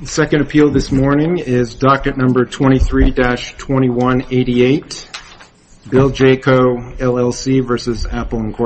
The second appeal this morning is docket number 23-2188, BillJCo, LLC v. Apple Inc.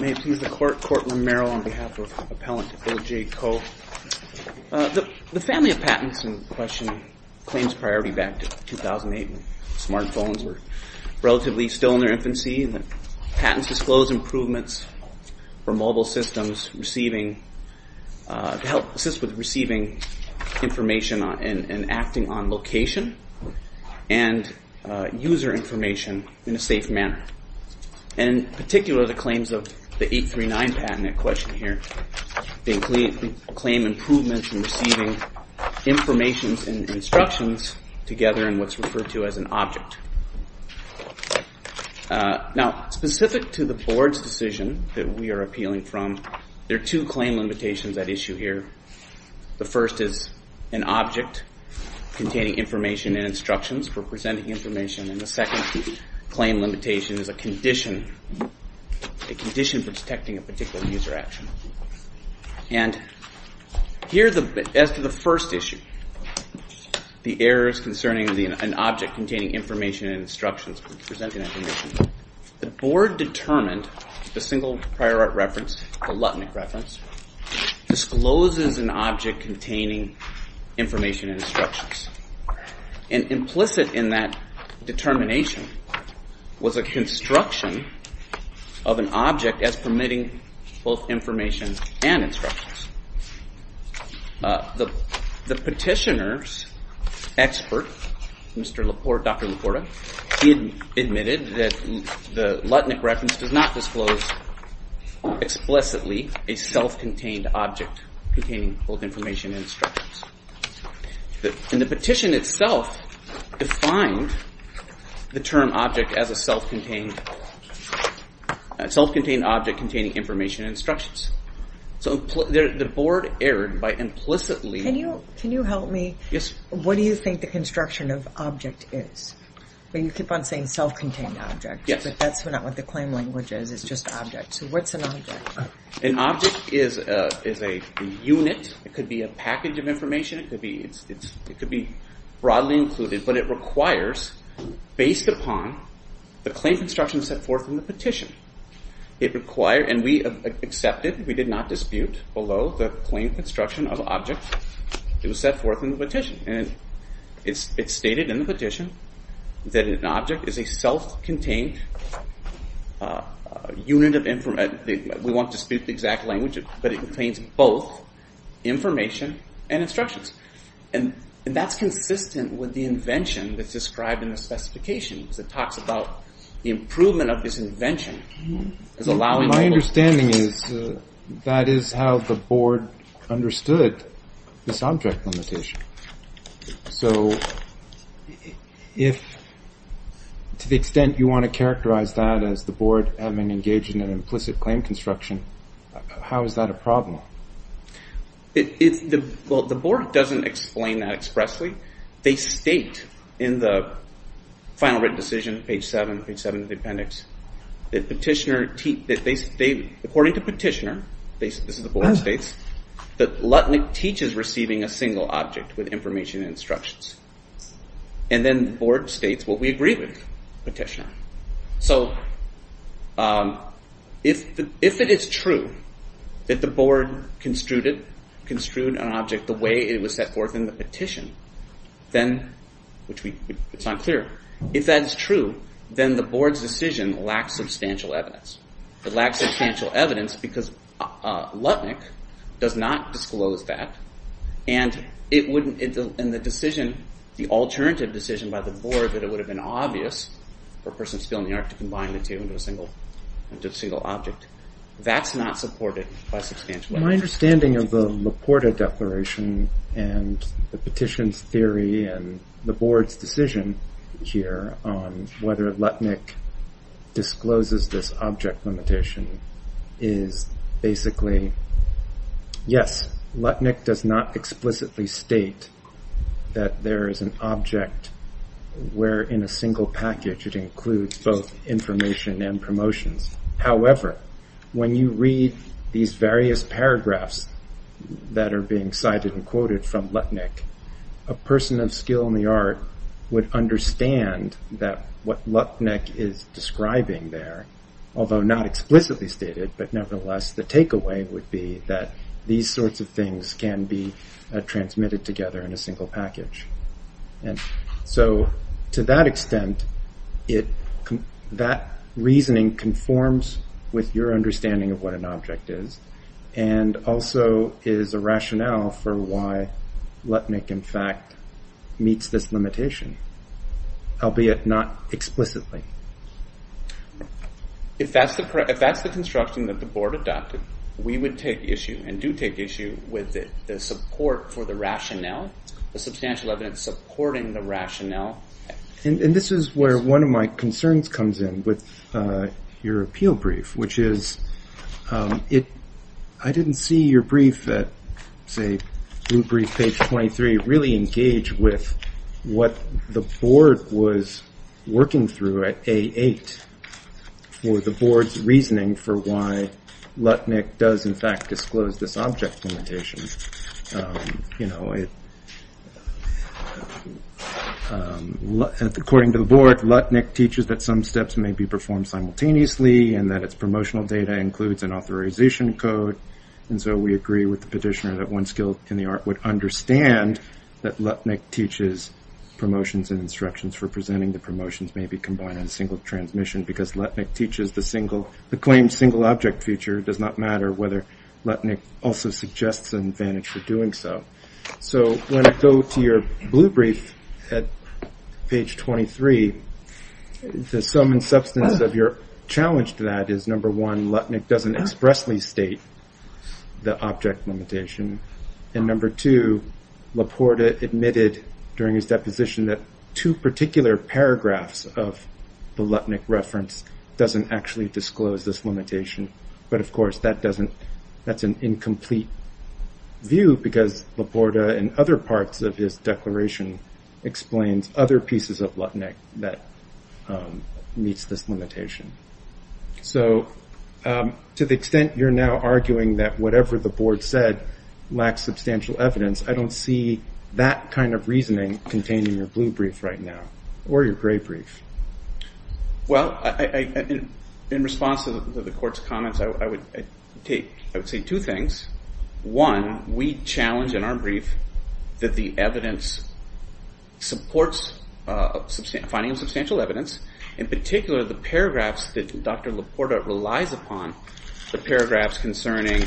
May it please the court, Courtroom Merrill on behalf of Appellant BillJCo, LLC v. Apple The family of patents in question claims priority back to 2008 when smartphones were relatively still in their infancy. Patents disclose improvements for mobile systems to assist with receiving information and acting on location and user information in a safe manner. In particular, the claims of the 839 patent in question here, they claim improvements in receiving information and instructions together in what's referred to as an object. Now specific to the board's decision that we are appealing from, there are two claim limitations at issue here. The first is an object containing information and instructions for presenting information and the second claim limitation is a condition for detecting a particular user action. And here as to the first issue, the errors concerning an object containing information and instructions for presenting that condition, the board determined the single prior art reference, the Lutnick reference, discloses an object containing information and instructions. And implicit in that determination was a construction of an object as permitting both information and instructions. The petitioner's expert, Dr. Laporta, he admitted that the Lutnick reference does not disclose explicitly a self-contained object containing both information and instructions. And the petition itself defined the term object as a self-contained object containing information and instructions. So the board erred by implicitly. Can you help me? What do you think the construction of object is? You keep on saying self-contained object, but that's not what the claim language is, it's just object. So what's an object? An object is a unit, it could be a package of information, it could be broadly included, but it requires, based upon the claim construction set forth in the petition, it requires, and we accepted, we did not dispute below the claim construction of object, it was set forth in the petition. And it's stated in the petition that an object is a self-contained unit of information. We won't dispute the exact language, but it contains both information and instructions. And that's consistent with the invention that's described in the specifications. It talks about the improvement of this invention. My understanding is that is how the board understood this object limitation. So if, to the extent you want to characterize that as the board having engaged in an implicit claim construction, how is that a problem? The board doesn't explain that expressly. They state in the final written decision, page 7 of the appendix, that petitioner, according to petitioner, this is what the board states, that Lutnick teaches receiving a single object with information and instructions. And then the board states what we agree with, petitioner. So if it is true that the board construed an object the way it was set forth in the petition, then, which we, it's not clear, if that is true, then the board's decision lacks substantial evidence. It lacks substantial evidence because Lutnick does not disclose that, and it wouldn't, and the decision, the board, that it would have been obvious for a person spilling the arc to combine the two into a single, into a single object. That's not supported by substantial evidence. My understanding of the Laporta declaration and the petition's theory and the board's decision here on whether Lutnick discloses this object limitation is basically, yes, Lutnick does not explicitly state that there is an object where in a single package it includes both information and promotions. However, when you read these various paragraphs that are being cited and quoted from Lutnick, a person of skill in the art would understand that what Lutnick is describing there, although not explicitly stated, but nevertheless, the takeaway would be that these sorts of things can be transmitted together in a single package. And so, to that extent, that reasoning conforms with your understanding of what an object is, and also is a rationale for why Lutnick, in fact, meets this limitation, albeit not explicitly. If that's the construction that the board adopted, we would take issue and do take issue with the support for the rationale, the substantial evidence supporting the rationale. And this is where one of my concerns comes in with your appeal brief, which is, I didn't see your brief at, say, blue brief page 23, really engage with what the board was working through at A8 for the board's reasoning for why Lutnick does, in fact, disclose this object limitation. You know, according to the board, Lutnick teaches that some steps may be performed simultaneously, and that its promotional data includes an authorization code. And so, we agree with the petitioner that one skill in the art would understand that Lutnick teaches promotions and instructions for presenting the promotions may be combined in a single transmission, because Lutnick teaches the single, the claimed single object feature does not matter whether Lutnick also suggests an advantage for doing so. So, when I go to your blue brief at page 23, the sum and substance of your challenge to that is, number one, Lutnick doesn't expressly state the object limitation. And number two, Leporta admitted during his deposition that two particular paragraphs of the Lutnick reference doesn't actually disclose this limitation. But of course, that doesn't, that's an incomplete view, because Leporta and other parts of his declaration explains other pieces of Lutnick that meets this limitation. So, to the extent you're now arguing that whatever the board said lacks substantial evidence, I don't see that kind of reasoning contained in your blue brief right now, or your gray brief. Well, in response to the court's comments, I would say two things. One, we challenge in our brief that the evidence supports finding of substantial evidence. In particular, the paragraphs that Dr. Leporta relies upon, the paragraphs concerning,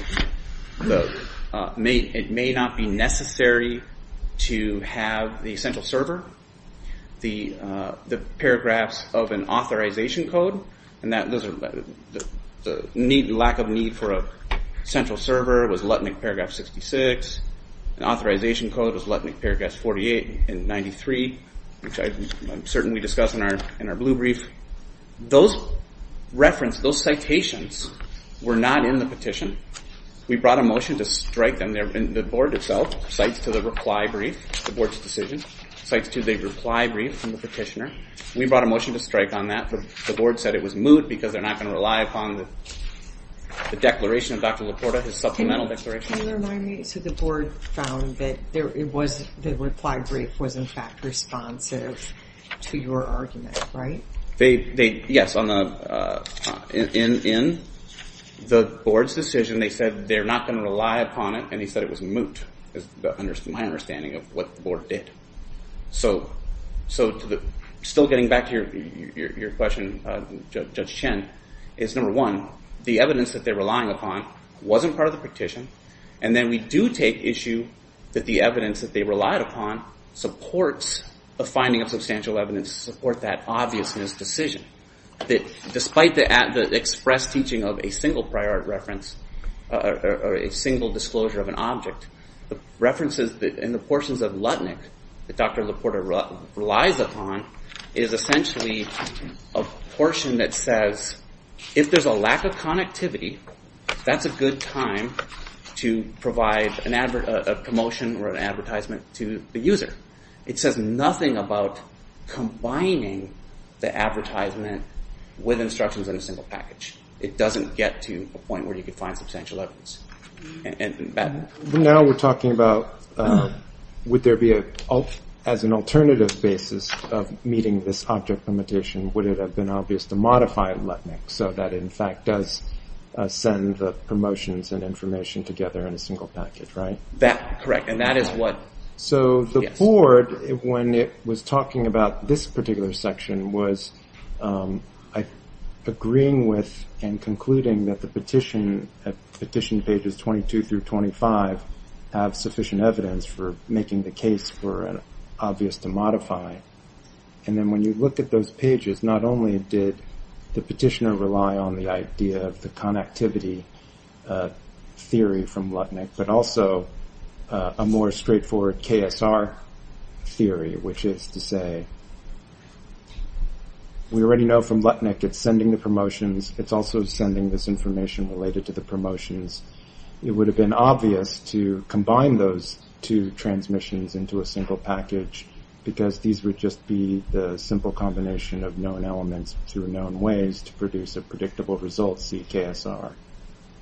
it may not be necessary to have the central server, the paragraphs of an authorization code, and the lack of need for a central server was Lutnick Paragraph 66. An authorization code was Lutnick Paragraph 48 and 93, which I'm certain we discussed in our blue brief. Those reference, those citations were not in the petition. We brought a motion to strike them, the board itself, cites to the reply brief, the board's decision, cites to the reply brief from the petitioner. We brought a motion to strike on that, but the board said it was moot because they're not going to rely upon the declaration of Dr. Leporta, his supplemental declaration. Can you remind me, so the board found that the reply brief was in fact responsive to your argument, right? Yes, in the board's decision, they said they're not going to rely upon it, and he said it was moot, is my understanding of what the board did. So still getting back to your question, Judge Chen, is number one, the evidence that they're relying upon wasn't part of the petition, and then we do take issue that the evidence that they relied upon supports the finding of substantial evidence to support that obviousness decision, that despite the express teaching of a single prior art reference or a single disclosure of an object, the references and the portions of Lutnick that Dr. Leporta relies upon is essentially a portion that says if there's a lack of connectivity, that's a good time to provide a promotion or an advertisement to the user. It says nothing about combining the advertisement with instructions in a single package. It doesn't get to a point where you could find substantial evidence. Now we're talking about would there be as an alternative basis of meeting this object would it have been obvious to modify Lutnick so that in fact does send the promotions and information together in a single package, right? That's correct, and that is what... So the board, when it was talking about this particular section, was agreeing with and concluding that the petition at petition pages 22 through 25 have sufficient evidence for making the case for an obvious to modify. And then when you look at those pages, not only did the petitioner rely on the idea of the connectivity theory from Lutnick, but also a more straightforward KSR theory, which is to say we already know from Lutnick it's sending the promotions. It's also sending this information related to the promotions. It would have been obvious to combine those two transmissions into a single package because these would just be the simple combination of known elements through known ways to produce a predictable result CKSR.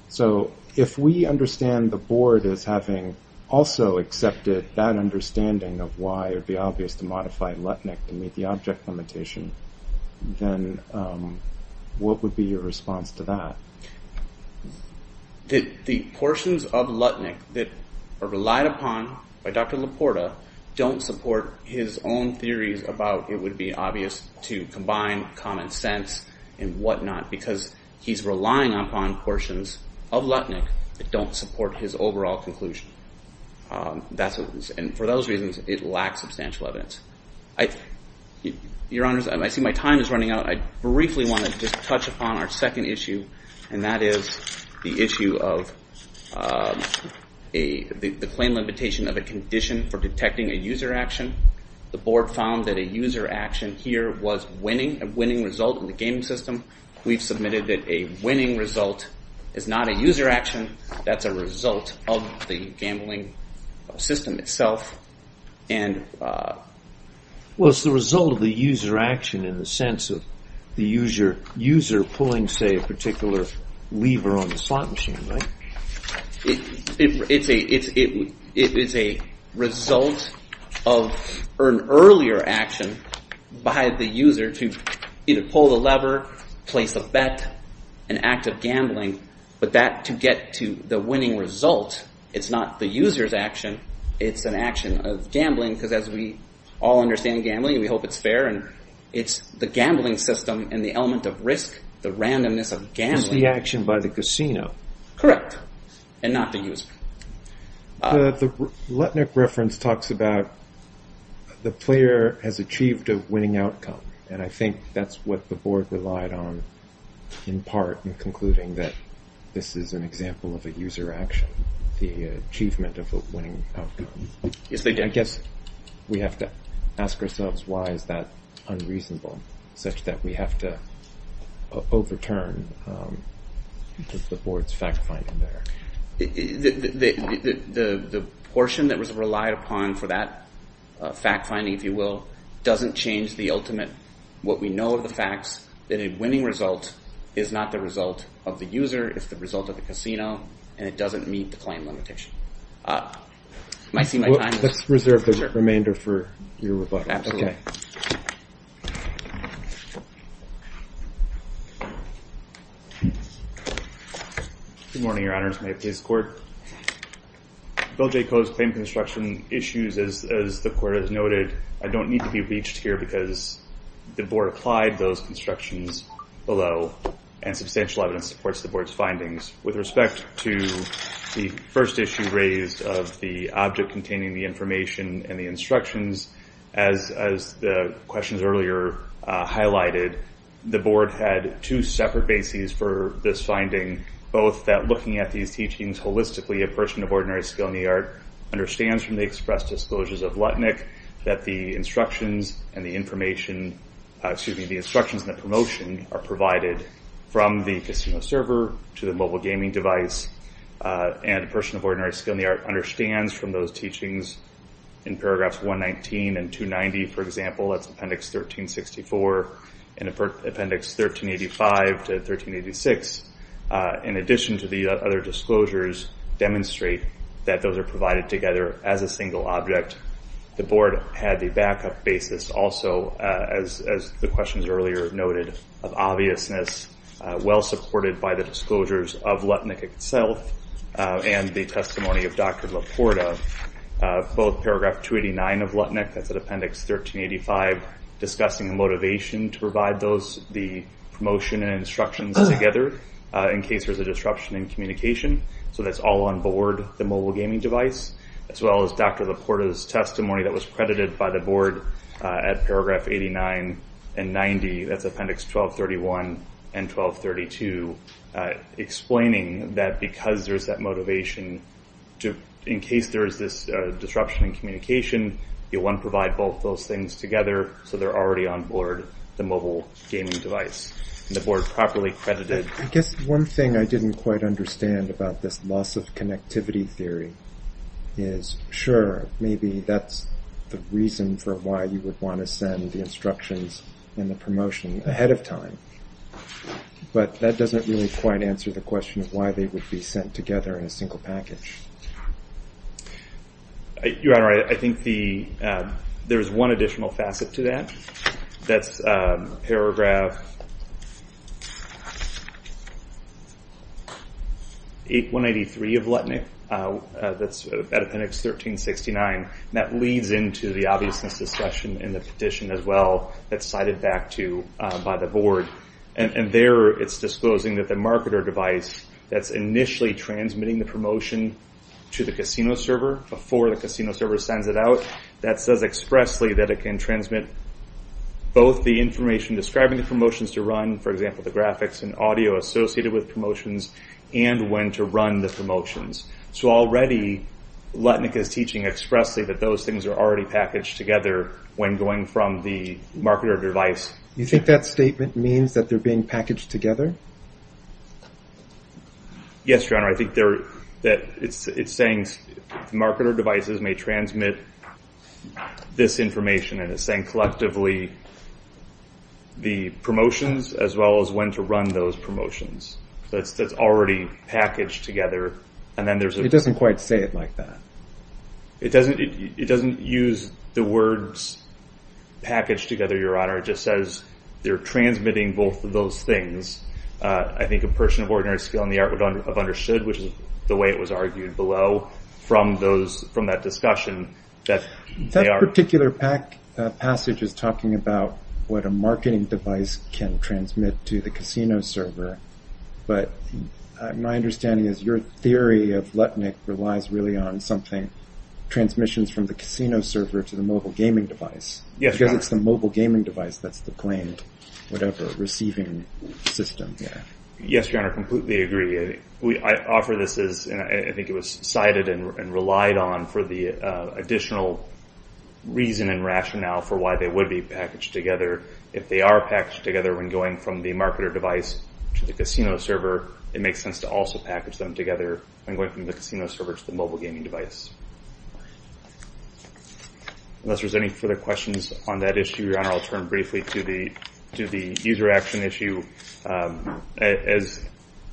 So if we understand the board as having also accepted that understanding of why it would be obvious to modify Lutnick to meet the object limitation, then what would be your response to that? The portions of Lutnick that are relied upon by Dr. Laporta don't support his own theories about it would be obvious to combine common sense and whatnot because he's relying upon portions of Lutnick that don't support his overall conclusion. And for those reasons, it lacks substantial evidence. Your honors, I see my time is running out. I briefly want to just touch upon our second issue, and that is the issue of the claim limitation of a condition for detecting a user action. The board found that a user action here was a winning result in the gaming system. We've submitted that a winning result is not a user action. That's a result of the gambling system itself. Well, it's the result of the user action in the sense of the user pulling, say, a particular lever on the slot machine, right? It is a result of an earlier action by the user to either pull the lever, place a bet, an act of gambling, but that to get to the winning result, it's not the user's action, it's an action of gambling because as we all understand gambling, we hope it's fair, and it's the gambling system and the element of risk, the randomness of gambling. It's the action by the casino. Correct, and not the user. The Lutnick reference talks about the player has achieved a winning outcome, and I think that's what the board relied on in part in concluding that this is an example of a user action, the achievement of a winning outcome. I guess we have to ask ourselves why is that unreasonable such that we have to overturn the board's fact-finding there. The portion that was relied upon for that fact-finding, if you will, doesn't change the ultimate, what we know of the facts, that a winning result is not the result of the user, it's the result of the casino, and it doesn't meet the claim limitation. Let's reserve the remainder for your rebuttal. Good morning, your honors. May it please the court. Bill J. Coe's claim construction issues, as the court has noted, I don't need to be reached here because the board applied those constructions below, and substantial evidence supports the board's findings. With respect to the first issue raised of the object containing the information and the instructions, as the questions earlier highlighted, the board had two separate bases for this finding, both that looking at these teachings holistically, a person of ordinary skill in the art understands from the express disclosures of Lutnick that the instructions and the information, excuse me, the instructions and the promotion are provided from the casino server to the mobile gaming device, and a person of ordinary skill in the art understands from those teachings in paragraphs 119 and 290, for example, that's appendix 1364 and appendix 1385 to 1386, in addition to the other disclosures demonstrate that those are provided together as a single object. The board had the backup basis also, as the questions earlier noted, of obviousness, well supported by the disclosures of Lutnick itself and the testimony of Dr. Laporta, both paragraph 289 of Lutnick, that's at appendix 1385, discussing the motivation to provide those, the promotion and instructions together in case there's a disruption in communication, so that's all on board the mobile gaming device, as well as Dr. Laporta's testimony that was credited by the board at paragraph 89 and 90, that's appendix 1231 and 1232, explaining that because there's that motivation to, in case there is this disruption in communication, you'll want to provide both those things together, so they're already on board the mobile gaming device, and the board properly credited. I guess one thing I didn't quite understand about this loss of connectivity theory is, sure, maybe that's the reason for why you would want to send the instructions and the promotion ahead of time, but that doesn't really quite answer the question of why they would be sent together in a single package. Your Honor, I think there's one additional facet to that, that's paragraph 8183 of Lutnick, that's at appendix 1369, and that leads into the obviousness discussion in the petition as well, that's cited back by the board, and there it's disclosing that marketer device that's initially transmitting the promotion to the casino server before the casino server sends it out, that says expressly that it can transmit both the information describing the promotions to run, for example the graphics and audio associated with promotions, and when to run the promotions. So already, Lutnick is teaching expressly that those things are already packaged together when going from the marketer device. You think that statement means that they're being packaged together? Yes, Your Honor, I think that it's saying the marketer devices may transmit this information, and it's saying collectively the promotions as well as when to run those promotions. That's already packaged together, and then there's... It doesn't quite say it like that. It doesn't use the words packaged together, Your Honor, it just says they're transmitting both of those things. I think a person of ordinary skill in the art would have understood, which is the way it was argued below from that discussion, that they are... That particular passage is talking about what a marketing device can transmit to the casino server, but my understanding is your theory of Lutnick relies really on something, transmissions from the casino server to the mobile gaming device. Yes, Your Honor. Because it's the mobile gaming device that's the claim, whatever, receiving system, yeah. Yes, Your Honor, I completely agree. I offer this as... I think it was cited and relied on for the additional reason and rationale for why they would be packaged together if they are packaged together when going from the marketer device to the casino server, it makes sense to also package them together when going from the casino server to the mobile gaming device. Unless there's any further questions on that issue, Your Honor, I'll turn briefly to the user action issue. As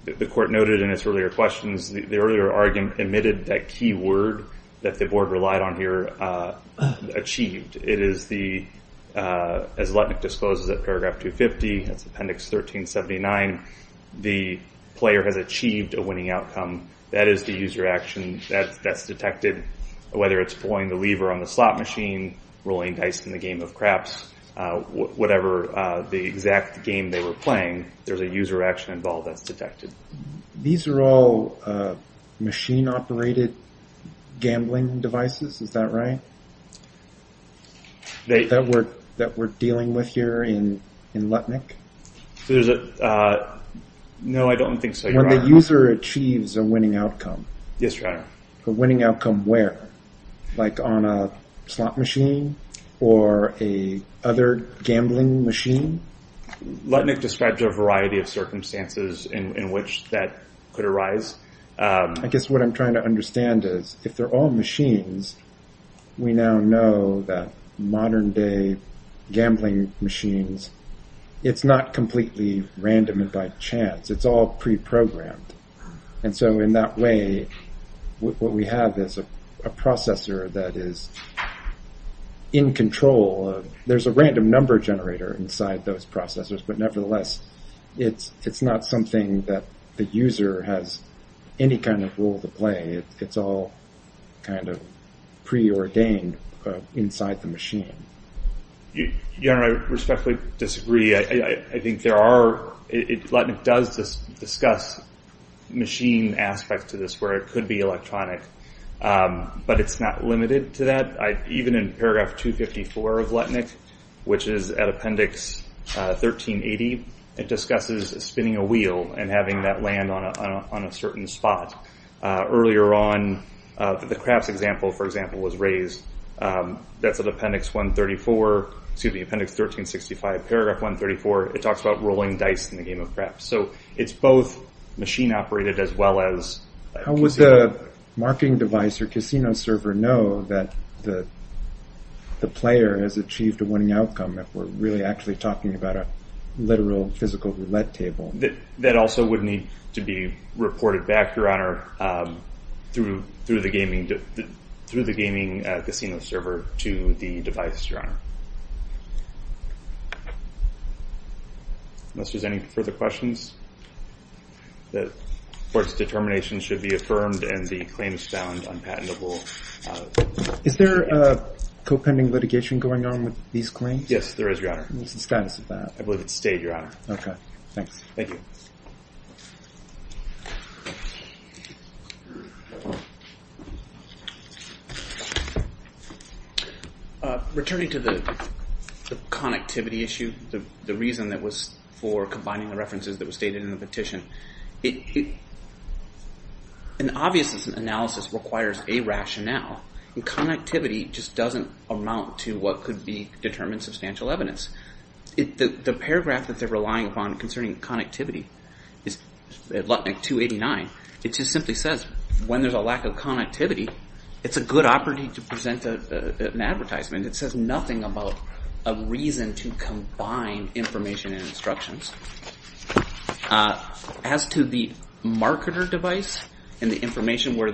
the court noted in its earlier questions, the earlier argument emitted that key word that the board relied on here, achieved. It is the... As Lutnick discloses at paragraph 250, that's appendix 1379, the player has achieved a winning outcome. That is the user action that's detected, whether it's pulling the lever on the slot machine, rolling dice in the game of craps, whatever the exact game they were playing, there's a user action involved that's detected. These are all machine-operated gambling devices, is that right? That we're dealing with here in Lutnick? No, I don't think so, Your Honor. When the user achieves a winning outcome? Yes, Your Honor. A winning outcome where? Like on a slot machine or a other gambling machine? Lutnick describes a variety of circumstances in which that could arise. I guess what I'm trying to understand is, if they're all machines, we now know that modern day gambling machines, it's not completely random by chance, it's all pre-programmed. And so in that way, what we have is a processor that is in control. There's a random number generator inside those processors, but nevertheless, it's not something that the user has any kind of role to play. It's all kind of preordained inside the machine. Your Honor, I respectfully disagree. I think there are, Lutnick does discuss machine aspects to this where it could be electronic, but it's not limited to that. Even in paragraph 254 of Lutnick, which is at appendix 1380, it discusses spinning a wheel and having that land on a certain spot. Earlier on, the craps example, for example, was raised. That's at appendix 1364, excuse me, appendix 1365, paragraph 134. It talks about rolling dice in the game of craps. It's both machine operated as well as... How would the marketing device or casino server know that the player has achieved a winning outcome if we're really actually talking about a literal physical roulette table? That also would need to be reported back, Your Honor, through the gaming casino server to the device, Your Honor. Unless there's any further questions? The court's determination should be affirmed and the claims found unpatentable. Is there a co-pending litigation going on with these claims? Yes, there is, Your Honor. What's the status of that? I believe it's stayed, Your Honor. Okay, thanks. Thank you. Returning to the connectivity issue, the reason that was for combining the references that were stated in the petition, an obvious analysis requires a rationale. Connectivity just doesn't amount to what could be determined substantial evidence. The paragraph that they're relying upon concerning connectivity is, in fact, the paragraph that they're relying upon at LUTNIC 289. It just simply says, when there's a lack of connectivity, it's a good opportunity to present an advertisement. It says nothing about a reason to combine information and instructions. As to the marketer device and the information where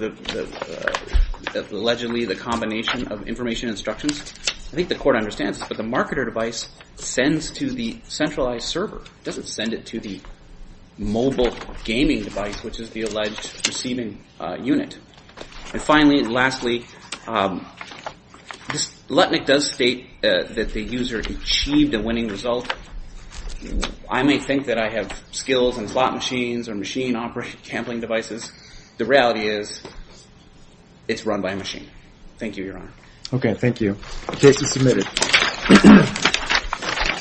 allegedly the combination of information instructions, I think the court understands, but the marketer device sends to the centralized server. It doesn't send it to the mobile gaming device, which is the alleged receiving unit. And finally and lastly, LUTNIC does state that the user achieved a winning result. I may think that I have skills in slot machines or machine-operated gambling devices. The reality is, it's run by a machine. Thank you, Your Honor. Okay, thank you. The case is submitted.